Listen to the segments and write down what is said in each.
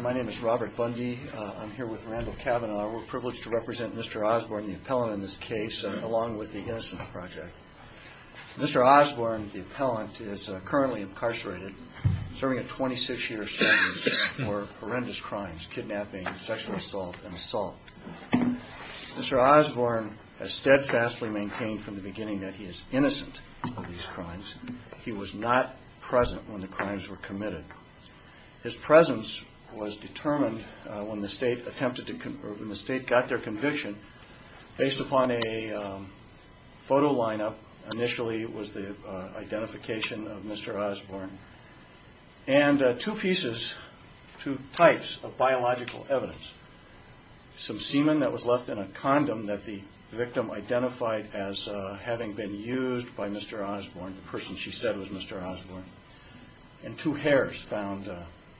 My name is Robert Bundy. I'm here with Randall Kavanaugh. We're privileged to represent Mr. Osborne, the appellant in this case, along with the Innocence Project. Mr. Osborne, the appellant, is currently incarcerated, serving a 26-year sentence for horrendous crimes, kidnapping, sexual assault and assault. Mr. Osborne has steadfastly maintained from the beginning that he is innocent of these crimes. He was not present when the crimes were committed. His presence was determined when the state got their conviction based upon a photo lineup. Initially it was the identification of Mr. Osborne and two pieces, two types of biological evidence. Some semen that was left in a condom that the victim identified as having been used by Mr. Osborne, the person she said was Mr. Osborne, and two hairs found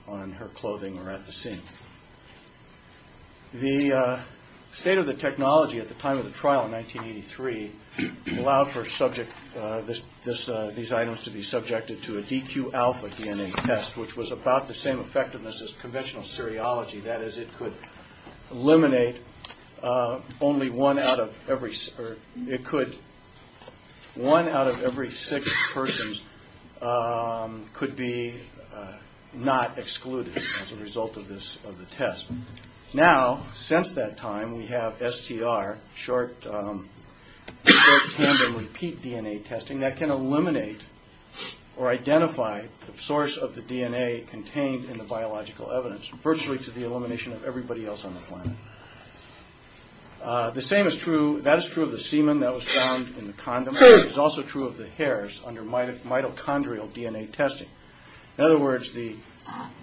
on her clothing or at the scene. The state of the technology at the time of the trial in 1983 allowed for these items to be subjected to a DQ-alpha DNA test, which was about the same effectiveness as conventional seriology. That is, it could eliminate only one out of every six persons could be not excluded as a result of the test. Now, since that time, we have STR, short tandem repeat DNA testing that can eliminate or identify the source of the DNA contained in the biological evidence, virtually to the elimination of everybody else on the planet. The same is true, that is true of the semen that was found in the condom, but it is also true of the hairs under mitochondrial DNA testing. In other words, the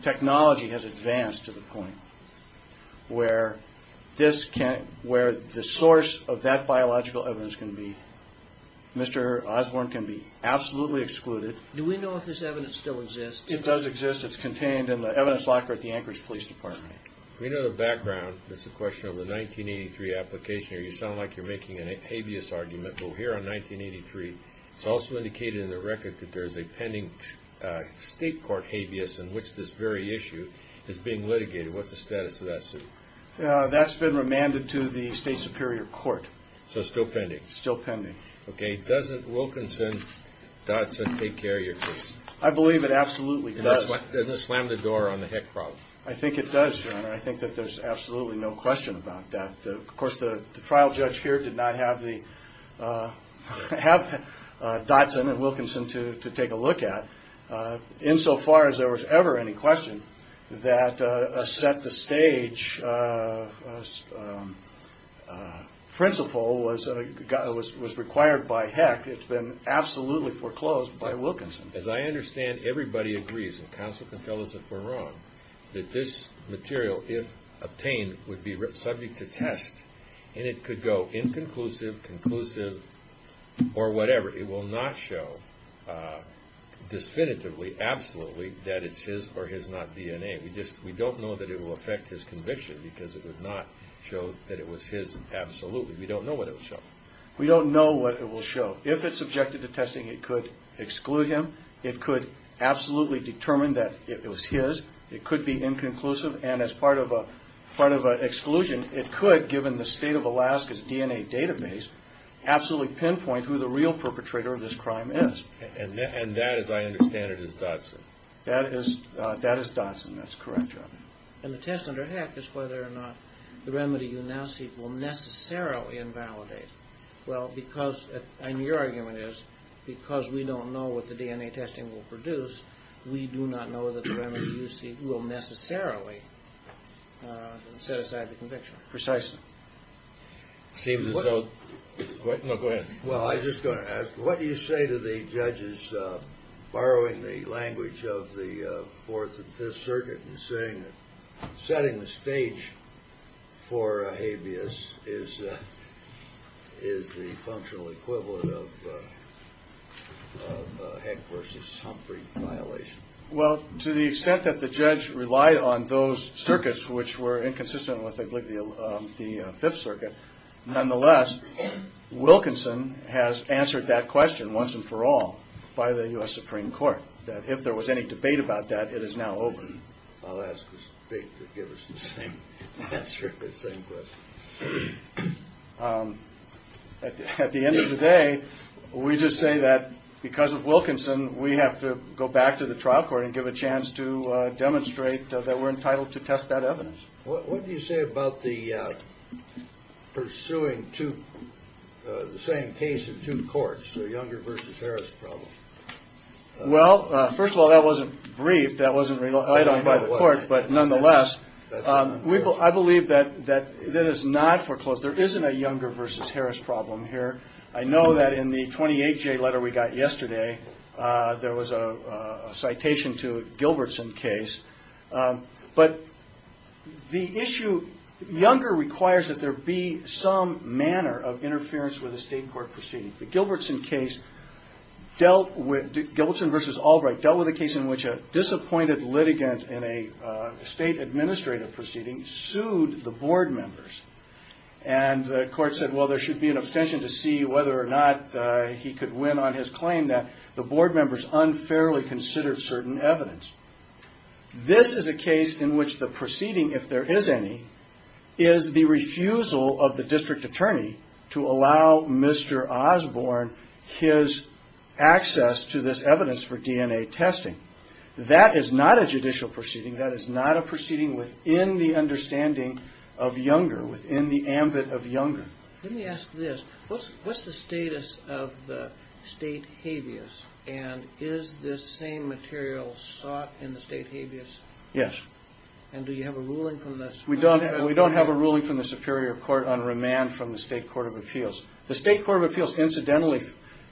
technology has advanced to the point where the source of that biological evidence can be, Mr. Osborne can be absolutely excluded. Do we know if this evidence still exists? It does exist. It's contained in the evidence locker at the Anchorage Police Department. We know the background. It's a question of the 1983 application. You sound like you're making a habeas argument. Well, here on 1983, it's also indicated in the record that there's a pending state court habeas in which this very issue is being litigated. What's the status of that suit? That's been remanded to the state superior court. So it's still pending? Still pending. Okay. Doesn't Wilkinson-Dodson take care of your case? I believe it absolutely does. Doesn't it slam the door on the heck problem? I think it does, Your Honor. I think that there's absolutely no question about that. Of course, the trial judge here did not have Dodson and Wilkinson to take a look at. Insofar as there was ever any question that a set-the-stage principle was required by heck, it's been absolutely foreclosed by Wilkinson. As I understand, everybody agrees, and counsel can tell us if we're wrong, that this material, if obtained, would be subject to test, and it could go inconclusive, conclusive, or whatever. It will not show definitively, absolutely, that it's his or his not DNA. We don't know that it will affect his conviction because it would not show that it was his absolutely. We don't know what it will show. We don't know what it will show. If it's subjected to testing, it could exclude him. It could absolutely determine that it was his. It could be inconclusive, and as part of an exclusion, it could, given the state of Alaska's DNA database, absolutely pinpoint who the real perpetrator of this crime is. And that, as I understand it, is Dodson. That is Dodson. That's correct, Your Honor. And the test under heck is whether or not the remedy you now see will necessarily invalidate. Well, because, and your argument is, because we don't know what the DNA testing will produce, we do not know that the remedy you see will necessarily set aside the conviction. Precisely. See if this is so. Go ahead. Well, I was just going to ask, what do you say to the judges borrowing the language of the Fourth and Fifth Circuit in saying that setting the stage for a habeas is the functional equivalent of a Heck v. Humphrey violation? Well, to the extent that the judge relied on those circuits, which were inconsistent with the Fifth Circuit, nonetheless, Wilkinson has answered that question once and for all by the U.S. Supreme Court, that if there was any debate about that, it is now over. I'll ask this debate to give us the same answer, the same question. At the end of the day, we just say that because of Wilkinson, we have to go back to the trial court and give a chance to demonstrate that we're entitled to test that evidence. What do you say about the pursuing the same case in two courts, the Younger v. Harris problem? Well, first of all, that wasn't briefed. That wasn't relied on by the court. But nonetheless, I believe that that is not foreclosed. There isn't a Younger v. Harris problem here. I know that in the 28-J letter we got yesterday, there was a citation to a Gilbertson case. But the issue, Younger requires that there be some manner of interference with a state court proceeding. The Gilbertson case dealt with, Gilbertson v. Albright dealt with a case in which a disappointed litigant in a state administrative proceeding sued the board members. And the court said, well, there should be an abstention to see whether or not he could win on his claim that the board members unfairly considered certain evidence. This is a case in which the proceeding, if there is any, is the refusal of the district attorney to allow Mr. Osborne his access to this evidence for DNA testing. That is not a judicial proceeding. That is not a proceeding within the understanding of Younger, within the ambit of Younger. Let me ask this. What's the status of the state habeas? And is this same material sought in the state habeas? Yes. And do you have a ruling from the... We don't have a ruling from the Superior Court on remand from the State Court of Appeals. The State Court of Appeals incidentally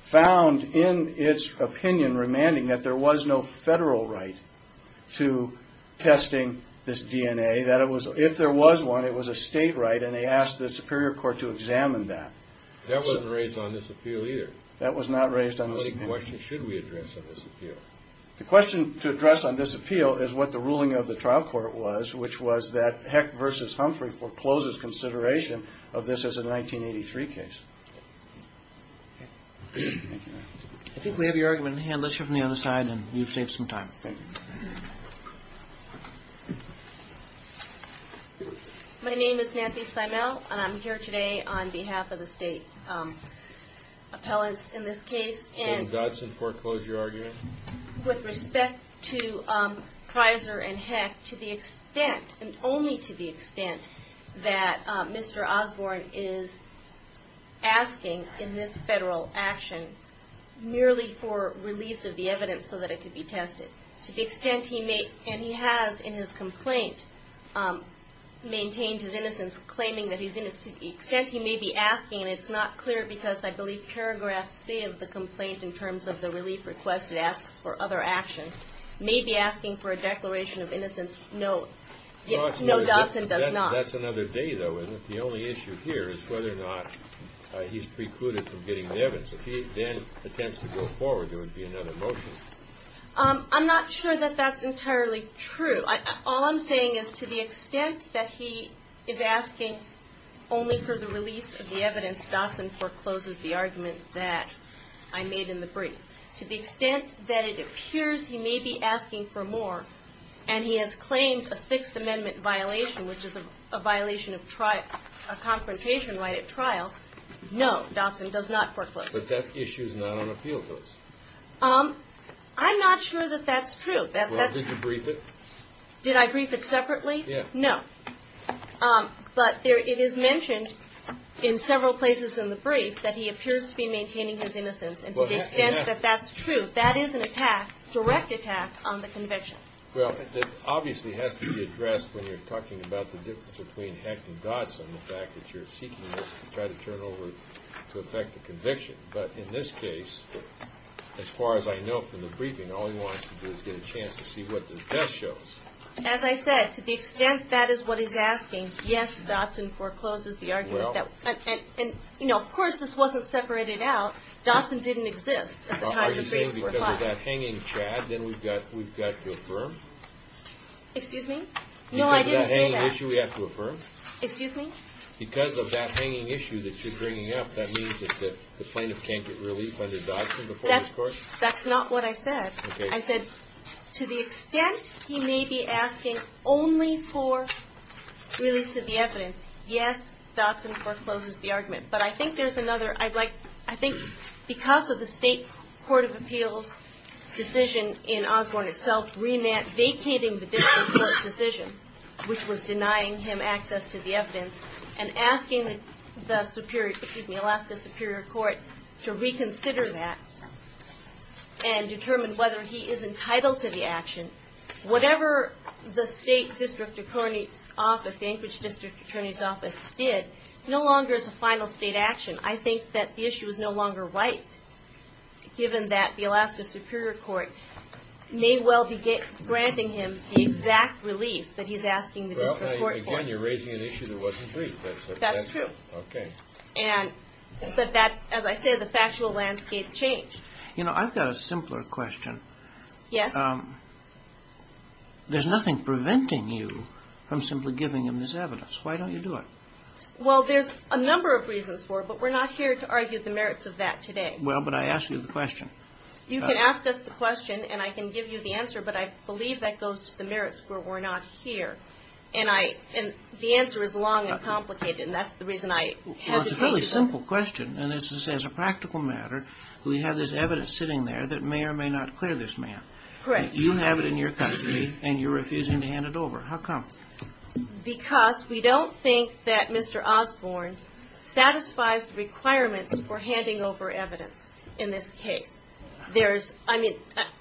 found in its opinion, remanding, that there was no federal right to testing this DNA. If there was one, it was a state right, and they asked the Superior Court to examine that. That wasn't raised on this appeal either. That was not raised on this appeal. What question should we address on this appeal? The question to address on this appeal is what the ruling of the trial court was, which was that Heck v. Humphrey forecloses consideration of this as a 1983 case. I think we have your argument. Let's hear from the other side, and you've saved some time. Thank you. My name is Nancy Simel, and I'm here today on behalf of the state appellants in this case. David Dodson foreclosed your argument? With respect to Treiser and Heck, to the extent, and only to the extent, that Mr. Osborne is asking in this federal action, merely for release of the evidence so that it could be tested. To the extent he may, and he has in his complaint, maintained his innocence claiming that he's innocent. To the extent he may be asking, and it's not clear because I believe paragraph C of the complaint in terms of the relief request, it asks for other actions, may be asking for a declaration of innocence. No, Dodson does not. That's another day, though, isn't it? The only issue here is whether or not he's precluded from getting the evidence. If he then attempts to go forward, there would be another motion. I'm not sure that that's entirely true. All I'm saying is to the extent that he is asking only for the release of the evidence, Dodson forecloses the argument that I made in the brief. To the extent that it appears he may be asking for more, and he has claimed a Sixth Amendment violation, which is a violation of trial, a confrontation right at trial, no, Dodson does not foreclose it. But that issue is not on appeal, though. I'm not sure that that's true. Well, did you brief it? Did I brief it separately? Yes. No. But it is mentioned in several places in the brief that he appears to be maintaining his innocence, and to the extent that that's true, that is an attack, direct attack, on the conviction. Well, it obviously has to be addressed when you're talking about the difference between Hecht and Dodson, the fact that you're seeking to try to turn over to effect a conviction. But in this case, as far as I know from the briefing, all he wants to do is get a chance to see what the test shows. As I said, to the extent that is what he's asking, yes, Dodson forecloses the argument. And, you know, of course this wasn't separated out. Dodson didn't exist at the time of the brief's reply. Are you saying because of that hanging Chad, then we've got to affirm? Excuse me? No, I didn't say that. Because of that hanging issue, we have to affirm? Excuse me? Because of that hanging issue that you're bringing up, that means that the plaintiff can't get relief under Dodson before this court? That's not what I said. Okay. As I said, to the extent he may be asking only for release of the evidence, yes, Dodson forecloses the argument. But I think there's another. I think because of the state court of appeals decision in Osborne itself vacating the district court's decision, which was denying him access to the evidence, and asking the Alaska Superior Court to reconsider that and determine whether he is entitled to the action, whatever the state district attorney's office, the Anchorage district attorney's office did, no longer is a final state action. I think that the issue is no longer right, given that the Alaska Superior Court may well be granting him the exact relief that he's asking the district court for. Again, you're raising an issue that wasn't briefed. That's true. Okay. But that, as I said, the factual landscape changed. You know, I've got a simpler question. Yes? There's nothing preventing you from simply giving him this evidence. Why don't you do it? Well, there's a number of reasons for it, but we're not here to argue the merits of that today. Well, but I asked you the question. You can ask us the question, and I can give you the answer, but I believe that goes to the merits where we're not here. And the answer is long and complicated, and that's the reason I hesitated. Well, it's a fairly simple question, and this is a practical matter. We have this evidence sitting there that may or may not clear this man. Correct. You have it in your custody, and you're refusing to hand it over. How come? Because we don't think that Mr. Osborne satisfies the requirements for handing over evidence in this case. I mean,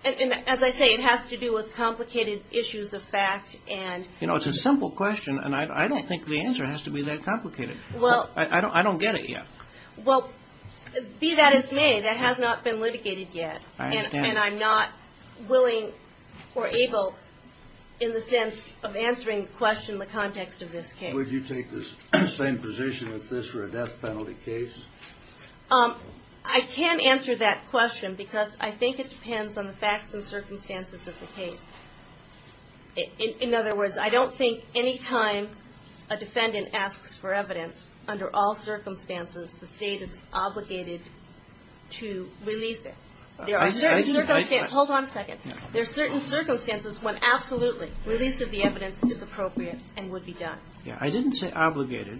as I say, it has to do with complicated issues of fact. You know, it's a simple question, and I don't think the answer has to be that complicated. I don't get it yet. Well, be that as may, that has not been litigated yet, and I'm not willing or able, in the sense of answering the question, the context of this case. Would you take the same position with this for a death penalty case? I can answer that question because I think it depends on the facts and circumstances of the case. In other words, I don't think any time a defendant asks for evidence, under all circumstances, the state is obligated to release it. There are certain circumstances. Hold on a second. There are certain circumstances when absolutely release of the evidence is appropriate and would be done. Yeah, I didn't say obligated.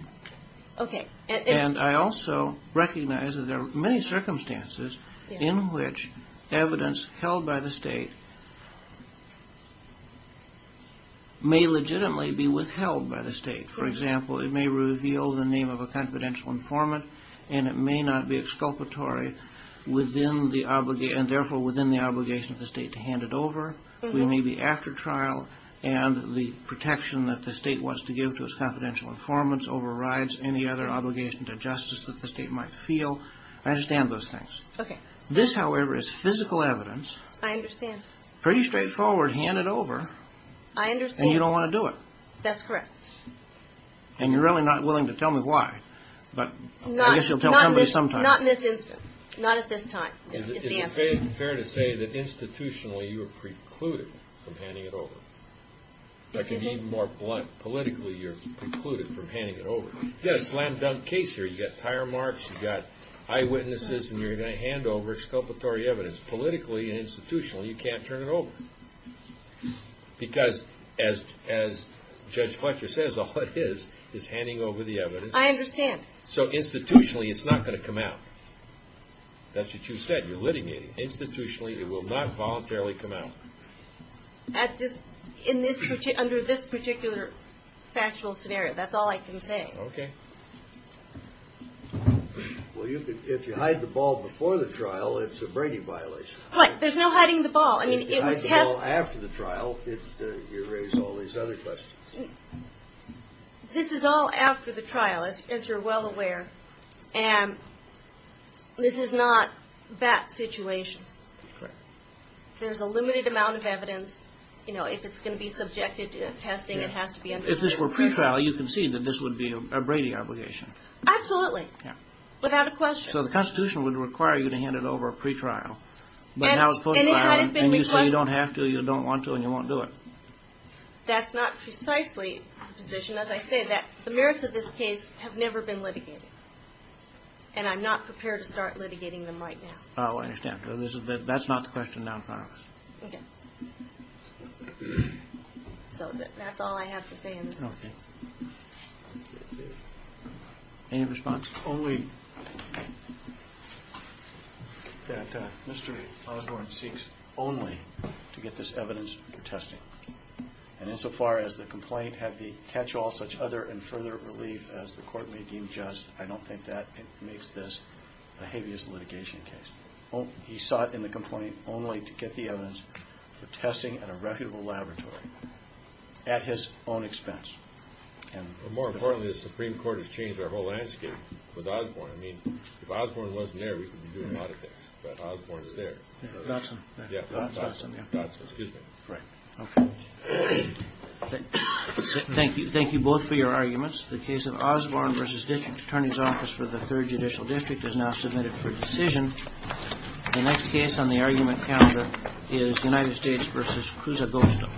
Okay. And I also recognize that there are many circumstances in which evidence held by the state may legitimately be withheld by the state. For example, it may reveal the name of a confidential informant, and it may not be exculpatory, and therefore within the obligation of the state to hand it over. It may be after trial, and the protection that the state wants to give to its confidential informants overrides any other obligation to justice that the state might feel. I understand those things. Okay. This, however, is physical evidence. I understand. Pretty straightforward. Hand it over. I understand. And you don't want to do it. That's correct. And you're really not willing to tell me why, but I guess you'll tell somebody sometime. Not in this instance. Not at this time is the answer. Is it fair to say that institutionally you are precluded from handing it over? I can be even more blunt. Politically, you're precluded from handing it over. You've got a slam-dunk case here. You've got tire marks. You've got eyewitnesses, and you're going to hand over exculpatory evidence. Politically and institutionally, you can't turn it over because, as Judge Fletcher says, all it is is handing over the evidence. I understand. So institutionally, it's not going to come out. That's what you said. You're litigating. Institutionally, it will not voluntarily come out. Under this particular factual scenario, that's all I can say. Okay. Well, if you hide the ball before the trial, it's a Brady violation. What? There's no hiding the ball. If you hide the ball after the trial, you raise all these other questions. This is all after the trial, as you're well aware. This is not that situation. Correct. There's a limited amount of evidence. If it's going to be subjected to testing, it has to be under the pre-trial. If this were pre-trial, you can see that this would be a Brady obligation. Absolutely. Yeah. Without a question. So the Constitution would require you to hand it over pre-trial. But now it's post-trial, and you say you don't have to, you don't want to, and you won't do it. That's not precisely the position. As I said, the merits of this case have never been litigated, and I'm not prepared to start litigating them right now. Oh, I understand. That's not the question now in front of us. Okay. So that's all I have to say in this case. Okay. Any response? Oh, wait. That Mr. Osborne seeks only to get this evidence for testing. And insofar as the complaint had the catch-all, such other and further relief as the court may deem just, I don't think that makes this a heaviest litigation case. He sought in the complaint only to get the evidence for testing at a reputable laboratory at his own expense. More importantly, the Supreme Court has changed our whole landscape with Osborne. I mean, if Osborne wasn't there, we could be doing a lot of things. But Osborne is there. Yeah, Dodson. Yeah, Dodson. Dodson, excuse me. Right. Okay. Thank you both for your arguments. The case of Osborne v. District Attorney's Office for the Third Judicial District is now submitted for decision. The next case on the argument calendar is United States v. Cruz Agosto.